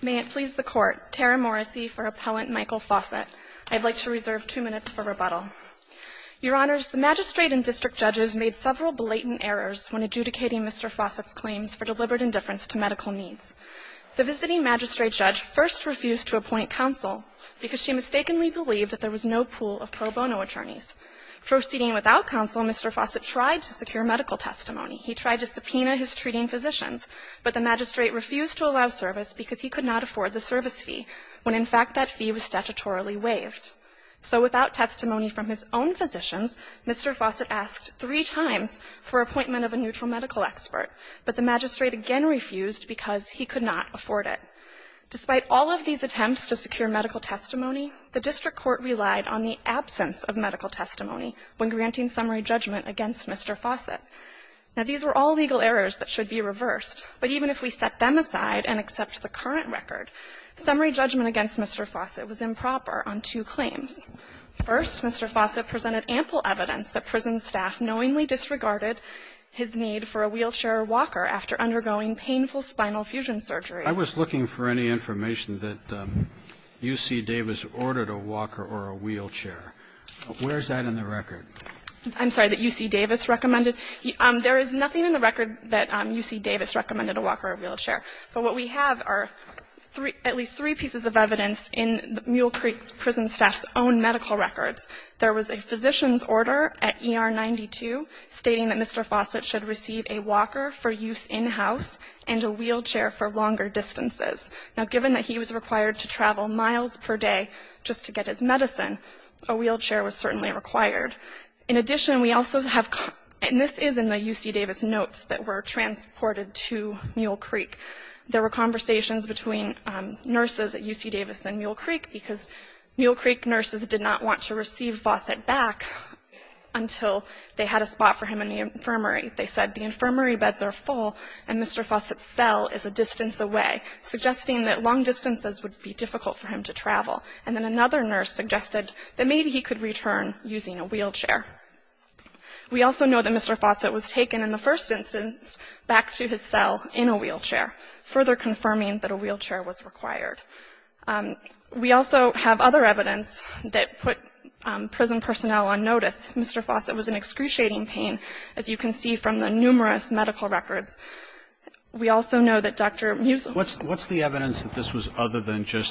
May it please the Court, Tara Morrissey for Appellant Michael Fausett. I'd like to reserve two minutes for rebuttal. Your Honors, the magistrate and district judges made several blatant errors when adjudicating Mr. Fausett's claims for deliberate indifference to medical needs. The visiting magistrate judge first refused to appoint counsel because she mistakenly believed that there was no pool of pro bono attorneys. Proceeding without counsel, Mr. Fausett tried to secure medical testimony. He tried to subpoena his treating physicians, but the magistrate refused to allow service because he could not afford the service fee, when, in fact, that fee was statutorily waived. So without testimony from his own physicians, Mr. Fausett asked three times for appointment of a neutral medical expert, but the magistrate again refused because he could not afford it. Despite all of these attempts to secure medical testimony, the district court relied on the absence of medical testimony when granting summary judgment against Mr. Fausett. Now, these were all legal errors that should be reversed, but even if we set them aside and accept the current record, summary judgment against Mr. Fausett was improper on two claims. First, Mr. Fausett presented ample evidence that prison staff knowingly disregarded his need for a wheelchair or walker after undergoing painful spinal fusion surgery. I was looking for any information that UC Davis ordered a walker or a wheelchair. Where is that in the record? I'm sorry, that UC Davis recommended? There is nothing in the record that UC Davis recommended a walker or wheelchair. But what we have are at least three pieces of evidence in the Mule Creek prison staff's own medical records. There was a physician's order at ER 92 stating that Mr. Fausett should receive a walker for use in-house and a wheelchair for longer distances. Now, given that he was required to travel miles per day just to get his medicine, a wheelchair was certainly required. In addition, we also have, and this is in the UC Davis notes that were transported to Mule Creek, there were conversations between nurses at UC Davis and Mule Creek because Mule Creek nurses did not want to receive Fausett back until they had a spot for him in the infirmary. They said the infirmary beds are full and Mr. Fausett's cell is a distance away, and then another nurse suggested that maybe he could return using a wheelchair. We also know that Mr. Fausett was taken in the first instance back to his cell in a wheelchair, further confirming that a wheelchair was required. We also have other evidence that put prison personnel on notice. Mr. Fausett was in excruciating pain, as you can see from the numerous medical records. We also know that Dr. Musil was in a wheelchair.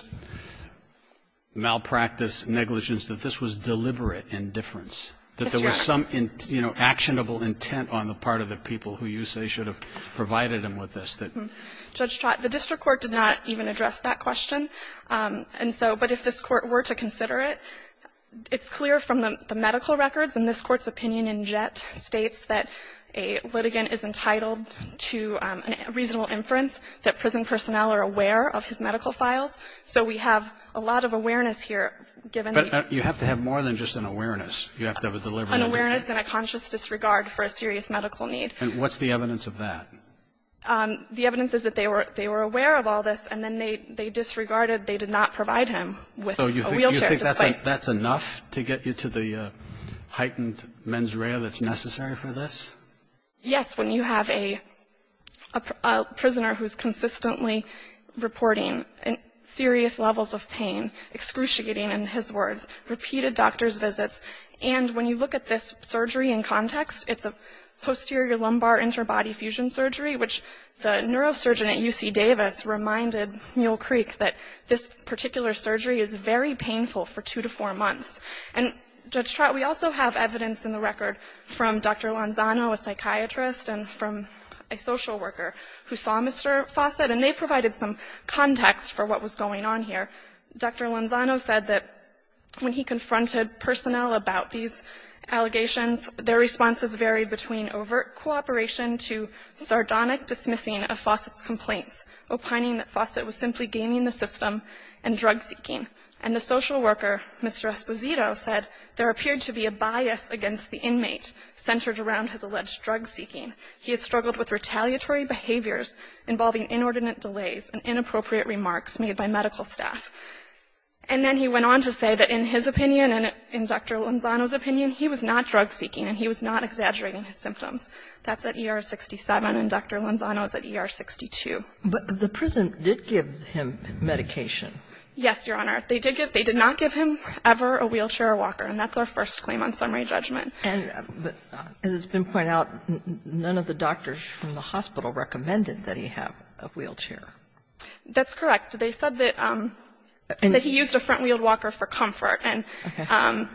Malpractice negligence, that this was deliberate indifference. That there was some, you know, actionable intent on the part of the people who you say should have provided him with this. Judge Trott, the district court did not even address that question. And so, but if this court were to consider it, it's clear from the medical records and this court's opinion in Jett states that a litigant is entitled to a reasonable inference that prison personnel are aware of his medical files. So we have a lot of awareness here, given the. But you have to have more than just an awareness. You have to have a deliberate. An awareness and a conscious disregard for a serious medical need. And what's the evidence of that? The evidence is that they were aware of all this, and then they disregarded, they did not provide him with a wheelchair. So you think that's enough to get you to the heightened mens rea that's necessary for this? Yes, when you have a prisoner who's consistently reporting serious levels of pain. Excruciating, in his words. Repeated doctor's visits. And when you look at this surgery in context, it's a posterior lumbar interbody fusion surgery, which the neurosurgeon at UC Davis reminded Mule Creek that this particular surgery is very painful for two to four months. And Judge Trott, we also have evidence in the record from Dr. Lanzano, a psychiatrist, and from a social worker who saw Mr. Fawcett, and they provided some context for what was going on here. Dr. Lanzano said that when he confronted personnel about these allegations, their responses varied between overt cooperation to sardonic dismissing of Fawcett's complaints, opining that Fawcett was simply gaming the system and drug-seeking. And the social worker, Mr. Esposito, said there appeared to be a bias against the inmate centered around his alleged drug-seeking. He has struggled with retaliatory behaviors involving inordinate delays and inappropriate remarks made by medical staff. And then he went on to say that in his opinion and in Dr. Lanzano's opinion, he was not drug-seeking and he was not exaggerating his symptoms. That's at ER 67, and Dr. Lanzano is at ER 62. But the prison did give him medication. Yes, Your Honor. They did not give him ever a wheelchair or walker, and that's our first claim on summary judgment. And as it's been pointed out, none of the doctors from the hospital recommended that he have a wheelchair. That's correct. They said that he used a front-wheeled walker for comfort, and,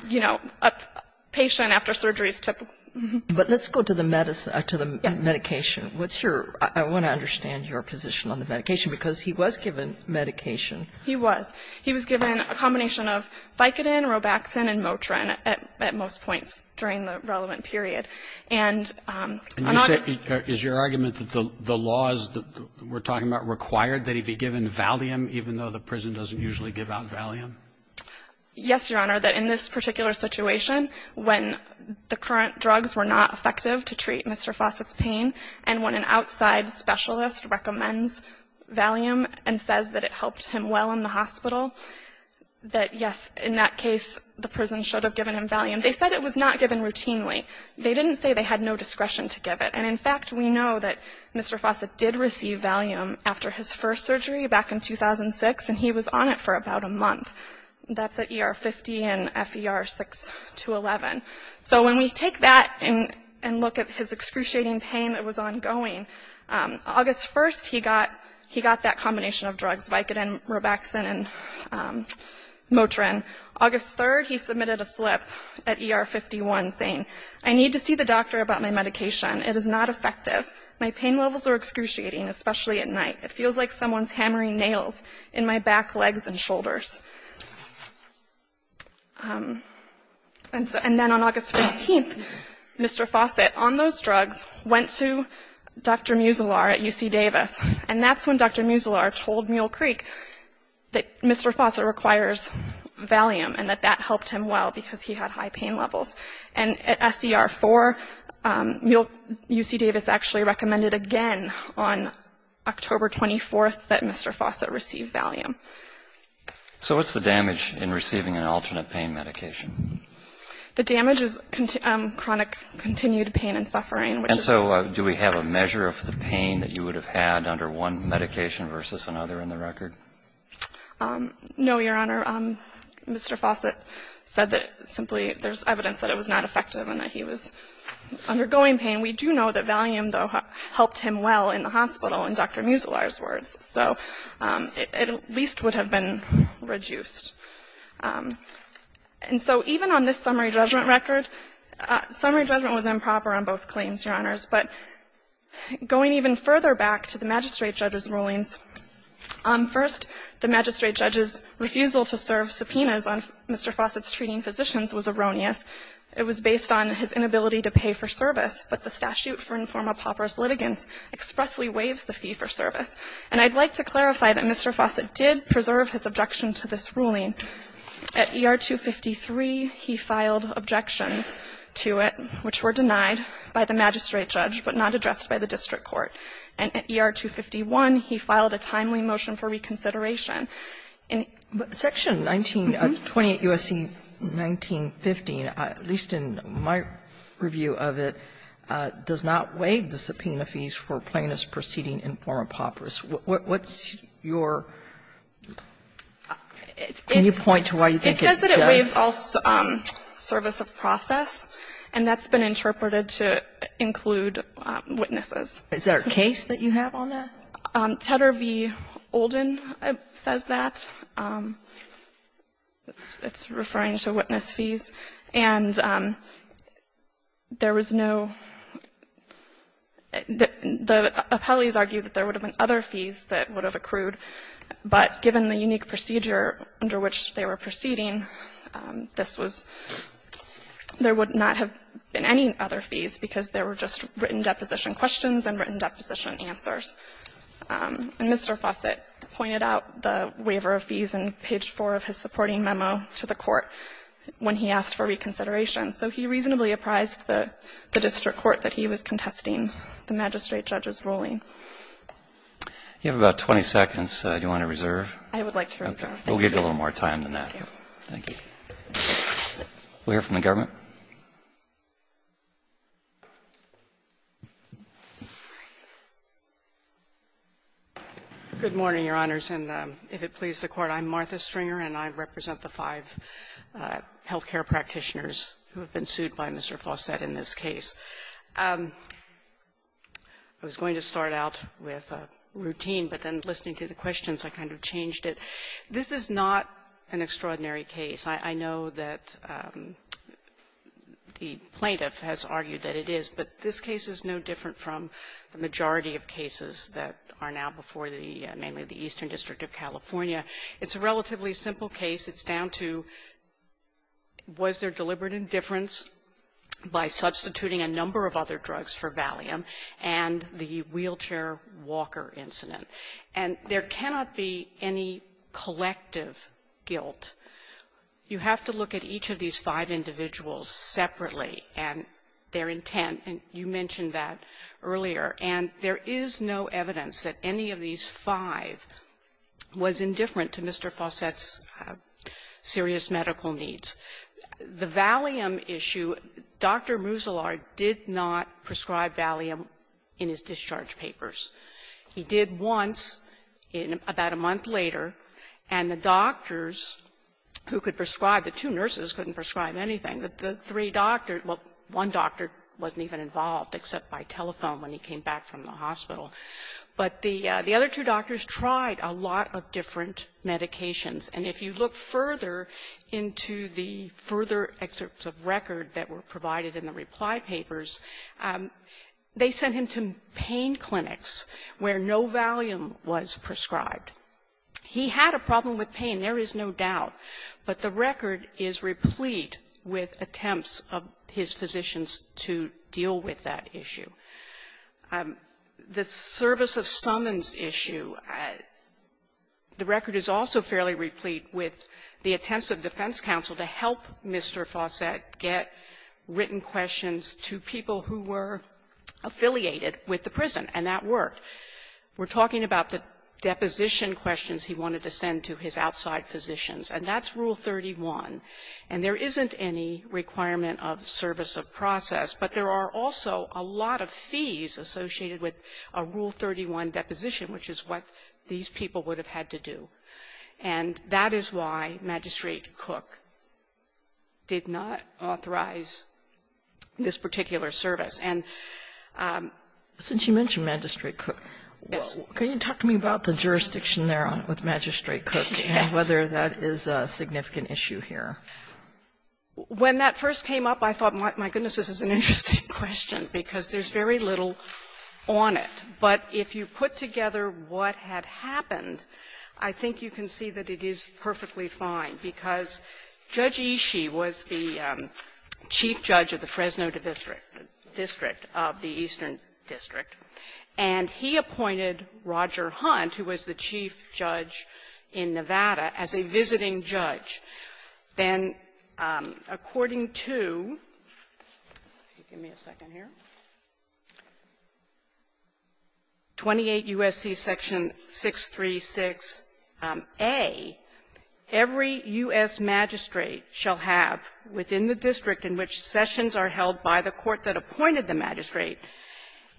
you know, a patient after surgery is typical. But let's go to the medicine or to the medication. What's your – I want to understand your position on the medication, because he was given medication. He was. He was given a combination of Vicodin, Robaxin, and Motrin at most points during the relevant period. And on August – And you say – is your argument that the laws that we're talking about required that he be given Valium, even though the prison doesn't usually give out Valium? Yes, Your Honor. That in this particular situation, when the current drugs were not effective to treat Mr. Fawcett's pain, and when an outside specialist recommends Valium and says that it helped him well in the hospital, that yes, in that case, the prison should have given him Valium. They said it was not given routinely. They didn't say they had no discretion to give it. And, in fact, we know that Mr. Fawcett did receive Valium after his first surgery back in 2006, and he was on it for about a month. That's at ER 50 and FER 6 to 11. So when we take that and look at his excruciating pain that was ongoing, August 1st, he got that combination of drugs, Vicodin, Robaxin, and Motrin. August 3rd, he submitted a slip at ER 51 saying, I need to see the doctor about my medication. It is not effective. My pain levels are excruciating, especially at night. It feels like someone's hammering nails in my back, legs, and shoulders. And then on August 15th, Mr. Fawcett, on those drugs, went to Dr. Musilar at UC Davis, and that's when Dr. Musilar told Mule Creek that Mr. Fawcett requires Valium and that that helped him well because he had high pain levels. And at SCR 4, UC Davis actually recommended again on October 24th that Mr. Fawcett receive Valium. So what's the damage in receiving an alternate pain medication? The damage is chronic continued pain and suffering. And so do we have a measure of the pain that you would have had under one medication versus another in the record? No, Your Honor. Mr. Fawcett said that simply there's evidence that it was not effective and that he was undergoing pain. We do know that Valium, though, helped him well in the hospital in Dr. Musilar's words. So it at least would have been reduced. And so even on this summary judgment record, summary judgment was improper on both claims, Your Honors. But going even further back to the magistrate judge's rulings, first, the magistrate judge's refusal to serve subpoenas on Mr. Fawcett's treating physicians was erroneous. It was based on his inability to pay for service, but the statute for informal pauperous litigants expressly waives the fee for service. And I'd like to clarify that Mr. Fawcett did preserve his objection to this ruling. At ER 253, he filed objections to it which were denied by the magistrate judge, but not addressed by the district court. And at ER 251, he filed a timely motion for reconsideration. In Section 19, 28 U.S.C. 1915, at least in my review of it, does not waive the subpoena fees for plaintiffs proceeding informal pauperous. What's your ñ can you point to why you think it does? It says that it waives all service of process, and that's been interpreted to include witnesses. Is there a case that you have on that? Tedder v. Olden says that. It's referring to witness fees. And there was no ñ the appellees argued that there would have been other fees that would have accrued, but given the unique procedure under which they were proceeding, this was ñ there would not have been any other fees because there were just written deposition questions and written deposition answers. And Mr. Fawcett pointed out the waiver of fees in page 4 of his supporting memo to the Court when he asked for reconsideration. So he reasonably apprised the district court that he was contesting the magistrate judge's ruling. You have about 20 seconds. Do you want to reserve? I would like to reserve. We'll give you a little more time than that. Thank you. We'll hear from the government. Good morning, Your Honors. And if it pleases the Court, I'm Martha Stringer, and I represent the five health care practitioners who have been sued by Mr. Fawcett in this case. I was going to start out with a routine, but then listening to the questions, I kind of changed it. This is not an extraordinary case. I know that the plaintiff has argued that it is, but this case is no different from the majority of cases that are now before the mainly the Eastern District of California. It's a relatively simple case. It's down to was there deliberate indifference by substituting a number of other drugs for Valium and the wheelchair walker incident. And there cannot be any collective guilt. You have to look at each of these five individuals separately and their intent. And you mentioned that earlier. And there is no evidence that any of these five was indifferent to Mr. Fawcett's serious medical needs. The Valium issue, Dr. Musilar did not prescribe Valium in his discharge papers. He did once in about a month later, and the doctors who could prescribe it, the two except by telephone when he came back from the hospital. But the other two doctors tried a lot of different medications. And if you look further into the further excerpts of record that were provided in the reply papers, they sent him to pain clinics where no Valium was prescribed. He had a problem with pain, there is no doubt. But the record is replete with attempts of his physicians to deal with that issue. The service of summons issue, the record is also fairly replete with the attempts of defense counsel to help Mr. Fawcett get written questions to people who were affiliated with the prison, and that worked. We're talking about the deposition questions he wanted to send to his outside physicians. And that's Rule 31. And there isn't any requirement of service of process, but there are also a lot of fees associated with a Rule 31 deposition, which is what these people would have had to do. And that is why Magistrate Cook did not authorize this particular service. Yes. Can you talk to me about the jurisdiction there with Magistrate Cook and whether that is a significant issue here? When that first came up, I thought, my goodness, this is an interesting question, because there's very little on it. But if you put together what had happened, I think you can see that it is perfectly fine, because Judge Ishii was the chief judge of the Fresno District of the Eastern District, and he appointed one of the magistrates, Roger Hunt, who was the chief judge in Nevada, as a visiting judge. Then, according to 28 U.S.C. Section 636a, every U.S. magistrate shall have, within the district in which sessions are held by the court that appointed the magistrate,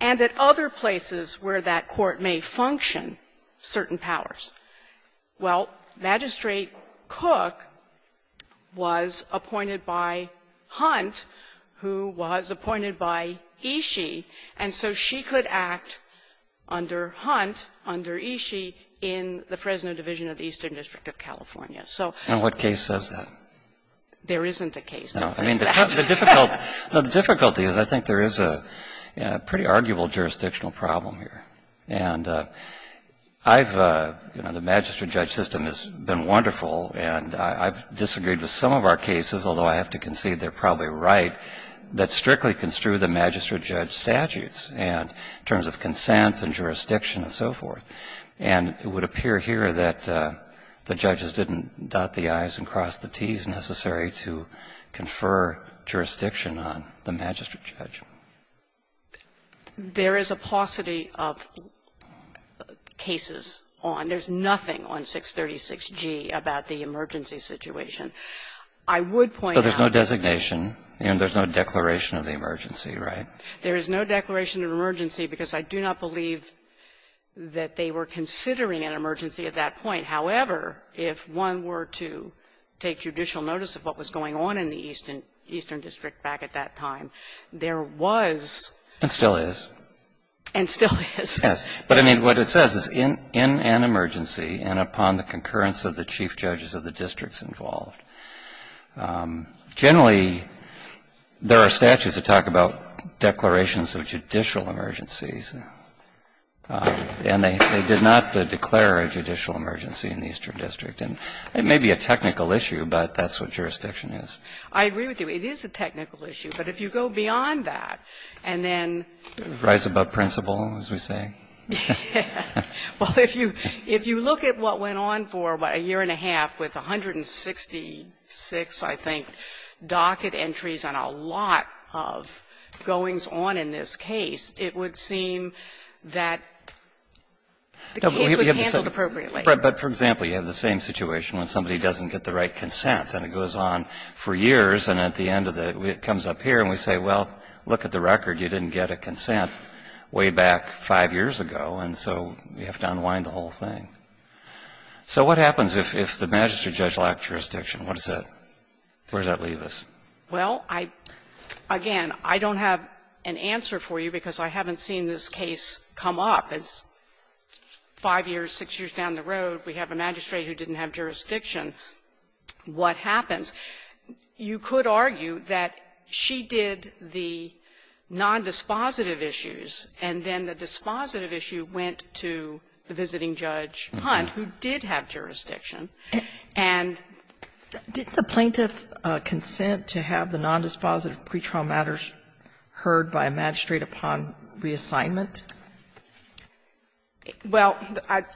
and at other places where that court may function, certain powers. Well, Magistrate Cook was appointed by Hunt, who was appointed by Ishii, and so she could act under Hunt, under Ishii, in the Fresno Division of the Eastern District of California. So what case says that? There isn't a case that says that. I mean, the difficulty is I think there is a pretty arguable jurisdictional problem here. And I've, you know, the magistrate-judge system has been wonderful, and I've disagreed with some of our cases, although I have to concede they're probably right, that strictly construe the magistrate-judge statutes in terms of consent and jurisdiction and so forth. And it would appear here that the judges didn't dot the i's and cross the t's necessary to confer jurisdiction on the magistrate-judge. There is a paucity of cases on. There's nothing on 636G about the emergency situation. I would point out that the So there's no designation, and there's no declaration of the emergency, right? There is no declaration of emergency because I do not believe that they were considering an emergency at that point. However, if one were to take judicial notice of what was going on in the Eastern District back at that time, there was And still is. And still is. Yes. But, I mean, what it says is in an emergency and upon the concurrence of the chief judges of the districts involved. Generally, there are statutes that talk about declarations of judicial emergencies. And they did not declare a judicial emergency in the Eastern District. And it may be a technical issue, but that's what jurisdiction is. I agree with you. It is a technical issue. But if you go beyond that, and then Rise above principle, as we say. Yeah. Well, if you look at what went on for about a year and a half with 166, I think, docket entries on a lot of goings-on in this case, it would seem that the case was handled appropriately. But, for example, you have the same situation when somebody doesn't get the right consent. And it goes on for years. And at the end of it, it comes up here. And we say, well, look at the record. You didn't get a consent way back five years ago. And so we have to unwind the whole thing. So what happens if the magistrate judge lacked jurisdiction? What does that leave us? Well, again, I don't have an answer for you because I haven't seen this case come up. It's five years, six years down the road. We have a magistrate who didn't have jurisdiction. What happens? You could argue that she did the nondispositive issues, and then the dispositive issue went to the visiting judge, Hunt, who did have jurisdiction. And the plaintiff consent to have the nondispositive pretrial matters heard by a magistrate upon reassignment? Well,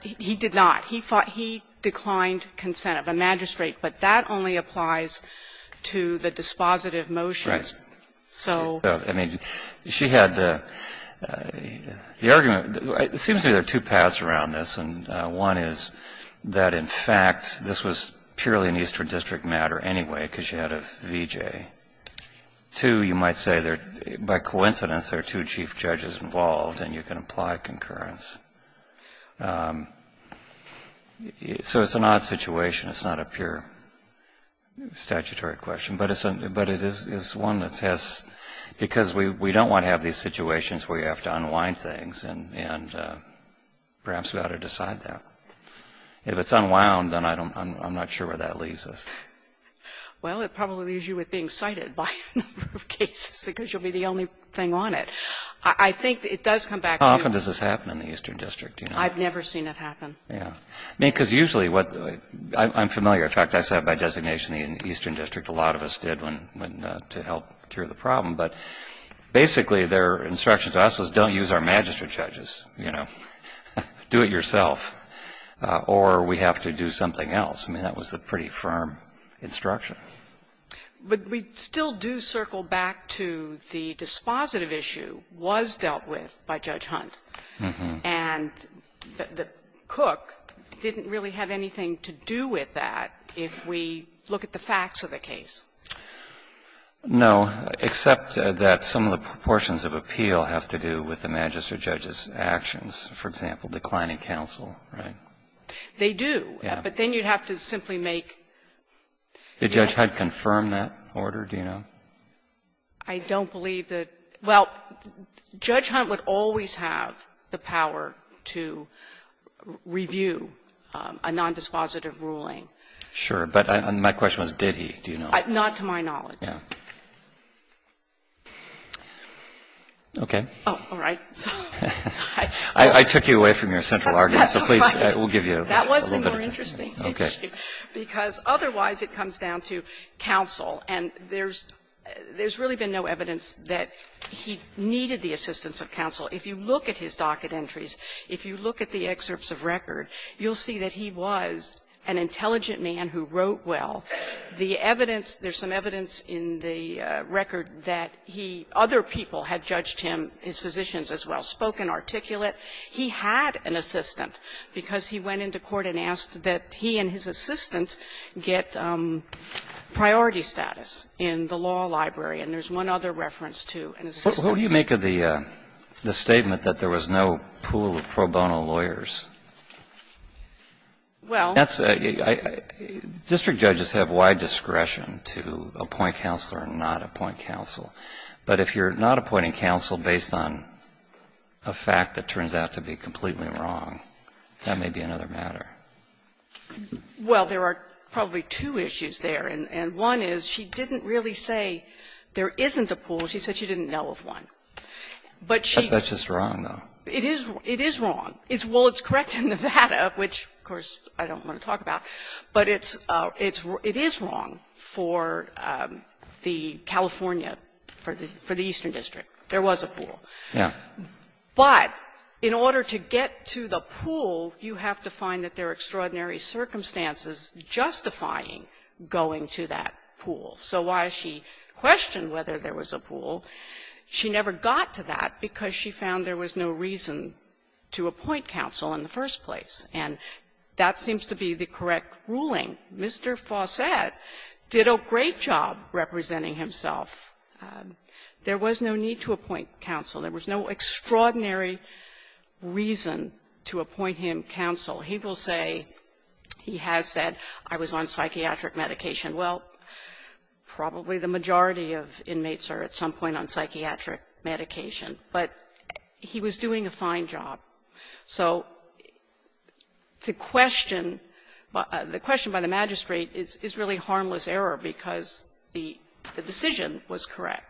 he did not. He thought he declined consent of a magistrate, but that only applies to the dispositive motions. So the argument. It seems to me there are two paths around this. And one is that, in fact, this was purely an Eastern District matter anyway because you had a VJ. Two, you might say by coincidence there are two chief judges involved, and you can apply concurrence. So it's an odd situation. It's not a pure statutory question. But it is one that has, because we don't want to have these situations where you have to make a decision, and perhaps we ought to decide that. If it's unwound, then I'm not sure where that leaves us. Well, it probably leaves you with being cited by a number of cases because you'll be the only thing on it. I think it does come back to you. How often does this happen in the Eastern District? I've never seen it happen. Yeah. I mean, because usually what the way — I'm familiar. In fact, I sat by designation in the Eastern District. A lot of us did to help cure the problem. But basically, their instruction to us was don't use our magistrate judges, you know. Do it yourself. Or we have to do something else. I mean, that was a pretty firm instruction. But we still do circle back to the dispositive issue was dealt with by Judge Hunt. And the Cook didn't really have anything to do with that if we look at the facts of the case. No, except that some of the proportions of appeal have to do with the magistrate judge's actions. For example, declining counsel, right? They do. Yeah. But then you'd have to simply make the judge. Did Judge Hunt confirm that order, do you know? I don't believe that — well, Judge Hunt would always have the power to review a nondispositive ruling. Sure. But my question was did he, do you know? Not to my knowledge. Okay. Oh, all right. I took you away from your central argument. So please, we'll give you a little bit of time. That was the more interesting issue, because otherwise it comes down to counsel. And there's really been no evidence that he needed the assistance of counsel. If you look at his docket entries, if you look at the excerpts of record, you'll see that he was an intelligent man who wrote well. The evidence — there's some evidence in the record that he — other people had judged him, his physicians as well, spoken, articulate. He had an assistant, because he went into court and asked that he and his assistant get priority status in the law library. And there's one other reference to an assistant. What do you make of the statement that there was no pool of pro bono lawyers? Well, that's a — district judges have wide discretion to appoint counsel or not appoint counsel. But if you're not appointing counsel based on a fact that turns out to be completely wrong, that may be another matter. Well, there are probably two issues there. Well, she said she didn't know of one. But she — But that's just wrong, though. It is — it is wrong. It's — well, it's correct in Nevada, which, of course, I don't want to talk about. But it's — it is wrong for the California, for the — for the Eastern District. There was a pool. Yeah. But in order to get to the pool, you have to find that there are extraordinary circumstances justifying going to that pool. So while she questioned whether there was a pool, she never got to that because she found there was no reason to appoint counsel in the first place. And that seems to be the correct ruling. Mr. Fawcett did a great job representing himself. There was no need to appoint counsel. There was no extraordinary reason to appoint him counsel. He will say — he has said, I was on psychiatric medication. Well, probably the majority of inmates are at some point on psychiatric medication. But he was doing a fine job. So to question — the question by the magistrate is really harmless error because the decision was correct.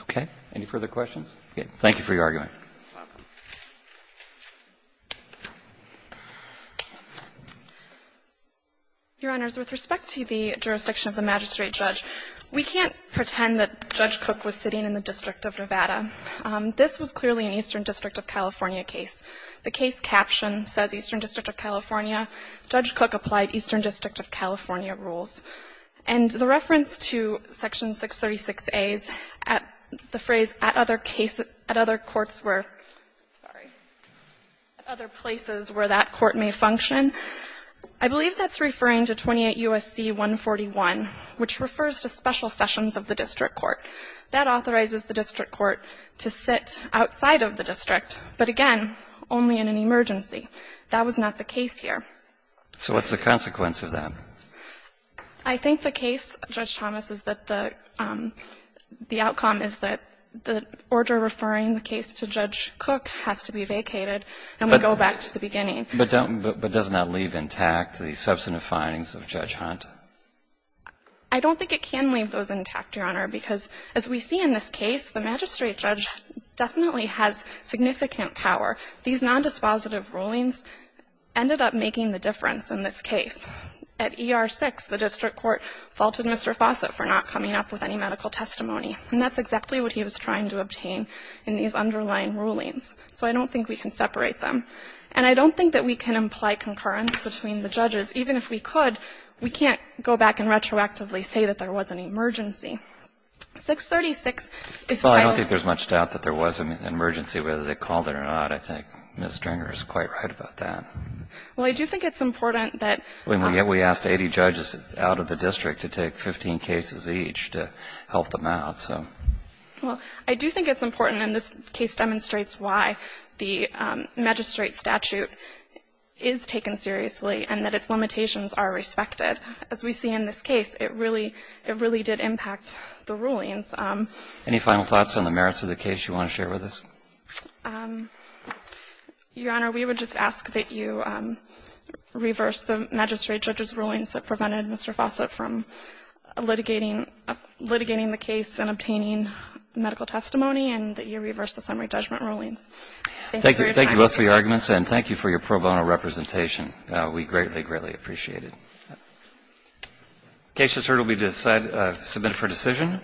Okay. Any further questions? Okay. Thank you for your argument. You're welcome. Your Honors, with respect to the jurisdiction of the magistrate judge, we can't pretend that Judge Cook was sitting in the District of Nevada. This was clearly an Eastern District of California case. The case caption says, Eastern District of California. Judge Cook applied Eastern District of California rules. And the reference to Section 636a's, the phrase, at other courts where — sorry — at other places where that court may function, I believe that's referring to 28 U.S.C. 141, which refers to special sessions of the district court. That authorizes the district court to sit outside of the district, but again, only in an emergency. That was not the case here. So what's the consequence of that? I think the case, Judge Thomas, is that the outcome is that the order referring the case to Judge Cook has to be vacated and we go back to the beginning. But doesn't that leave intact the substantive findings of Judge Hunt? I don't think it can leave those intact, Your Honor, because as we see in this case, the magistrate judge definitely has significant power. These nondispositive rulings ended up making the difference in this case. At ER-6, the district court faulted Mr. Fossett for not coming up with any medical testimony. And that's exactly what he was trying to obtain in these underlying rulings. So I don't think we can separate them. And I don't think that we can imply concurrence between the judges. Even if we could, we can't go back and retroactively say that there was an emergency. 636 is titled — Well, I don't think there's much doubt that there was an emergency, whether they called it or not. I think Ms. Stringer is quite right about that. Well, I do think it's important that — We asked 80 judges out of the district to take 15 cases each to help them out. Well, I do think it's important, and this case demonstrates why the magistrate statute is taken seriously and that its limitations are respected. As we see in this case, it really did impact the rulings. Any final thoughts on the merits of the case you want to share with us? Your Honor, we would just ask that you reverse the magistrate judge's rulings that prevented Mr. Fossett from litigating the case and obtaining medical testimony, and that you reverse the summary judgment rulings. Thank you for your time. Thank you both for your arguments, and thank you for your pro bono representation. We greatly, greatly appreciate it. The case has heard and will be submitted for decision.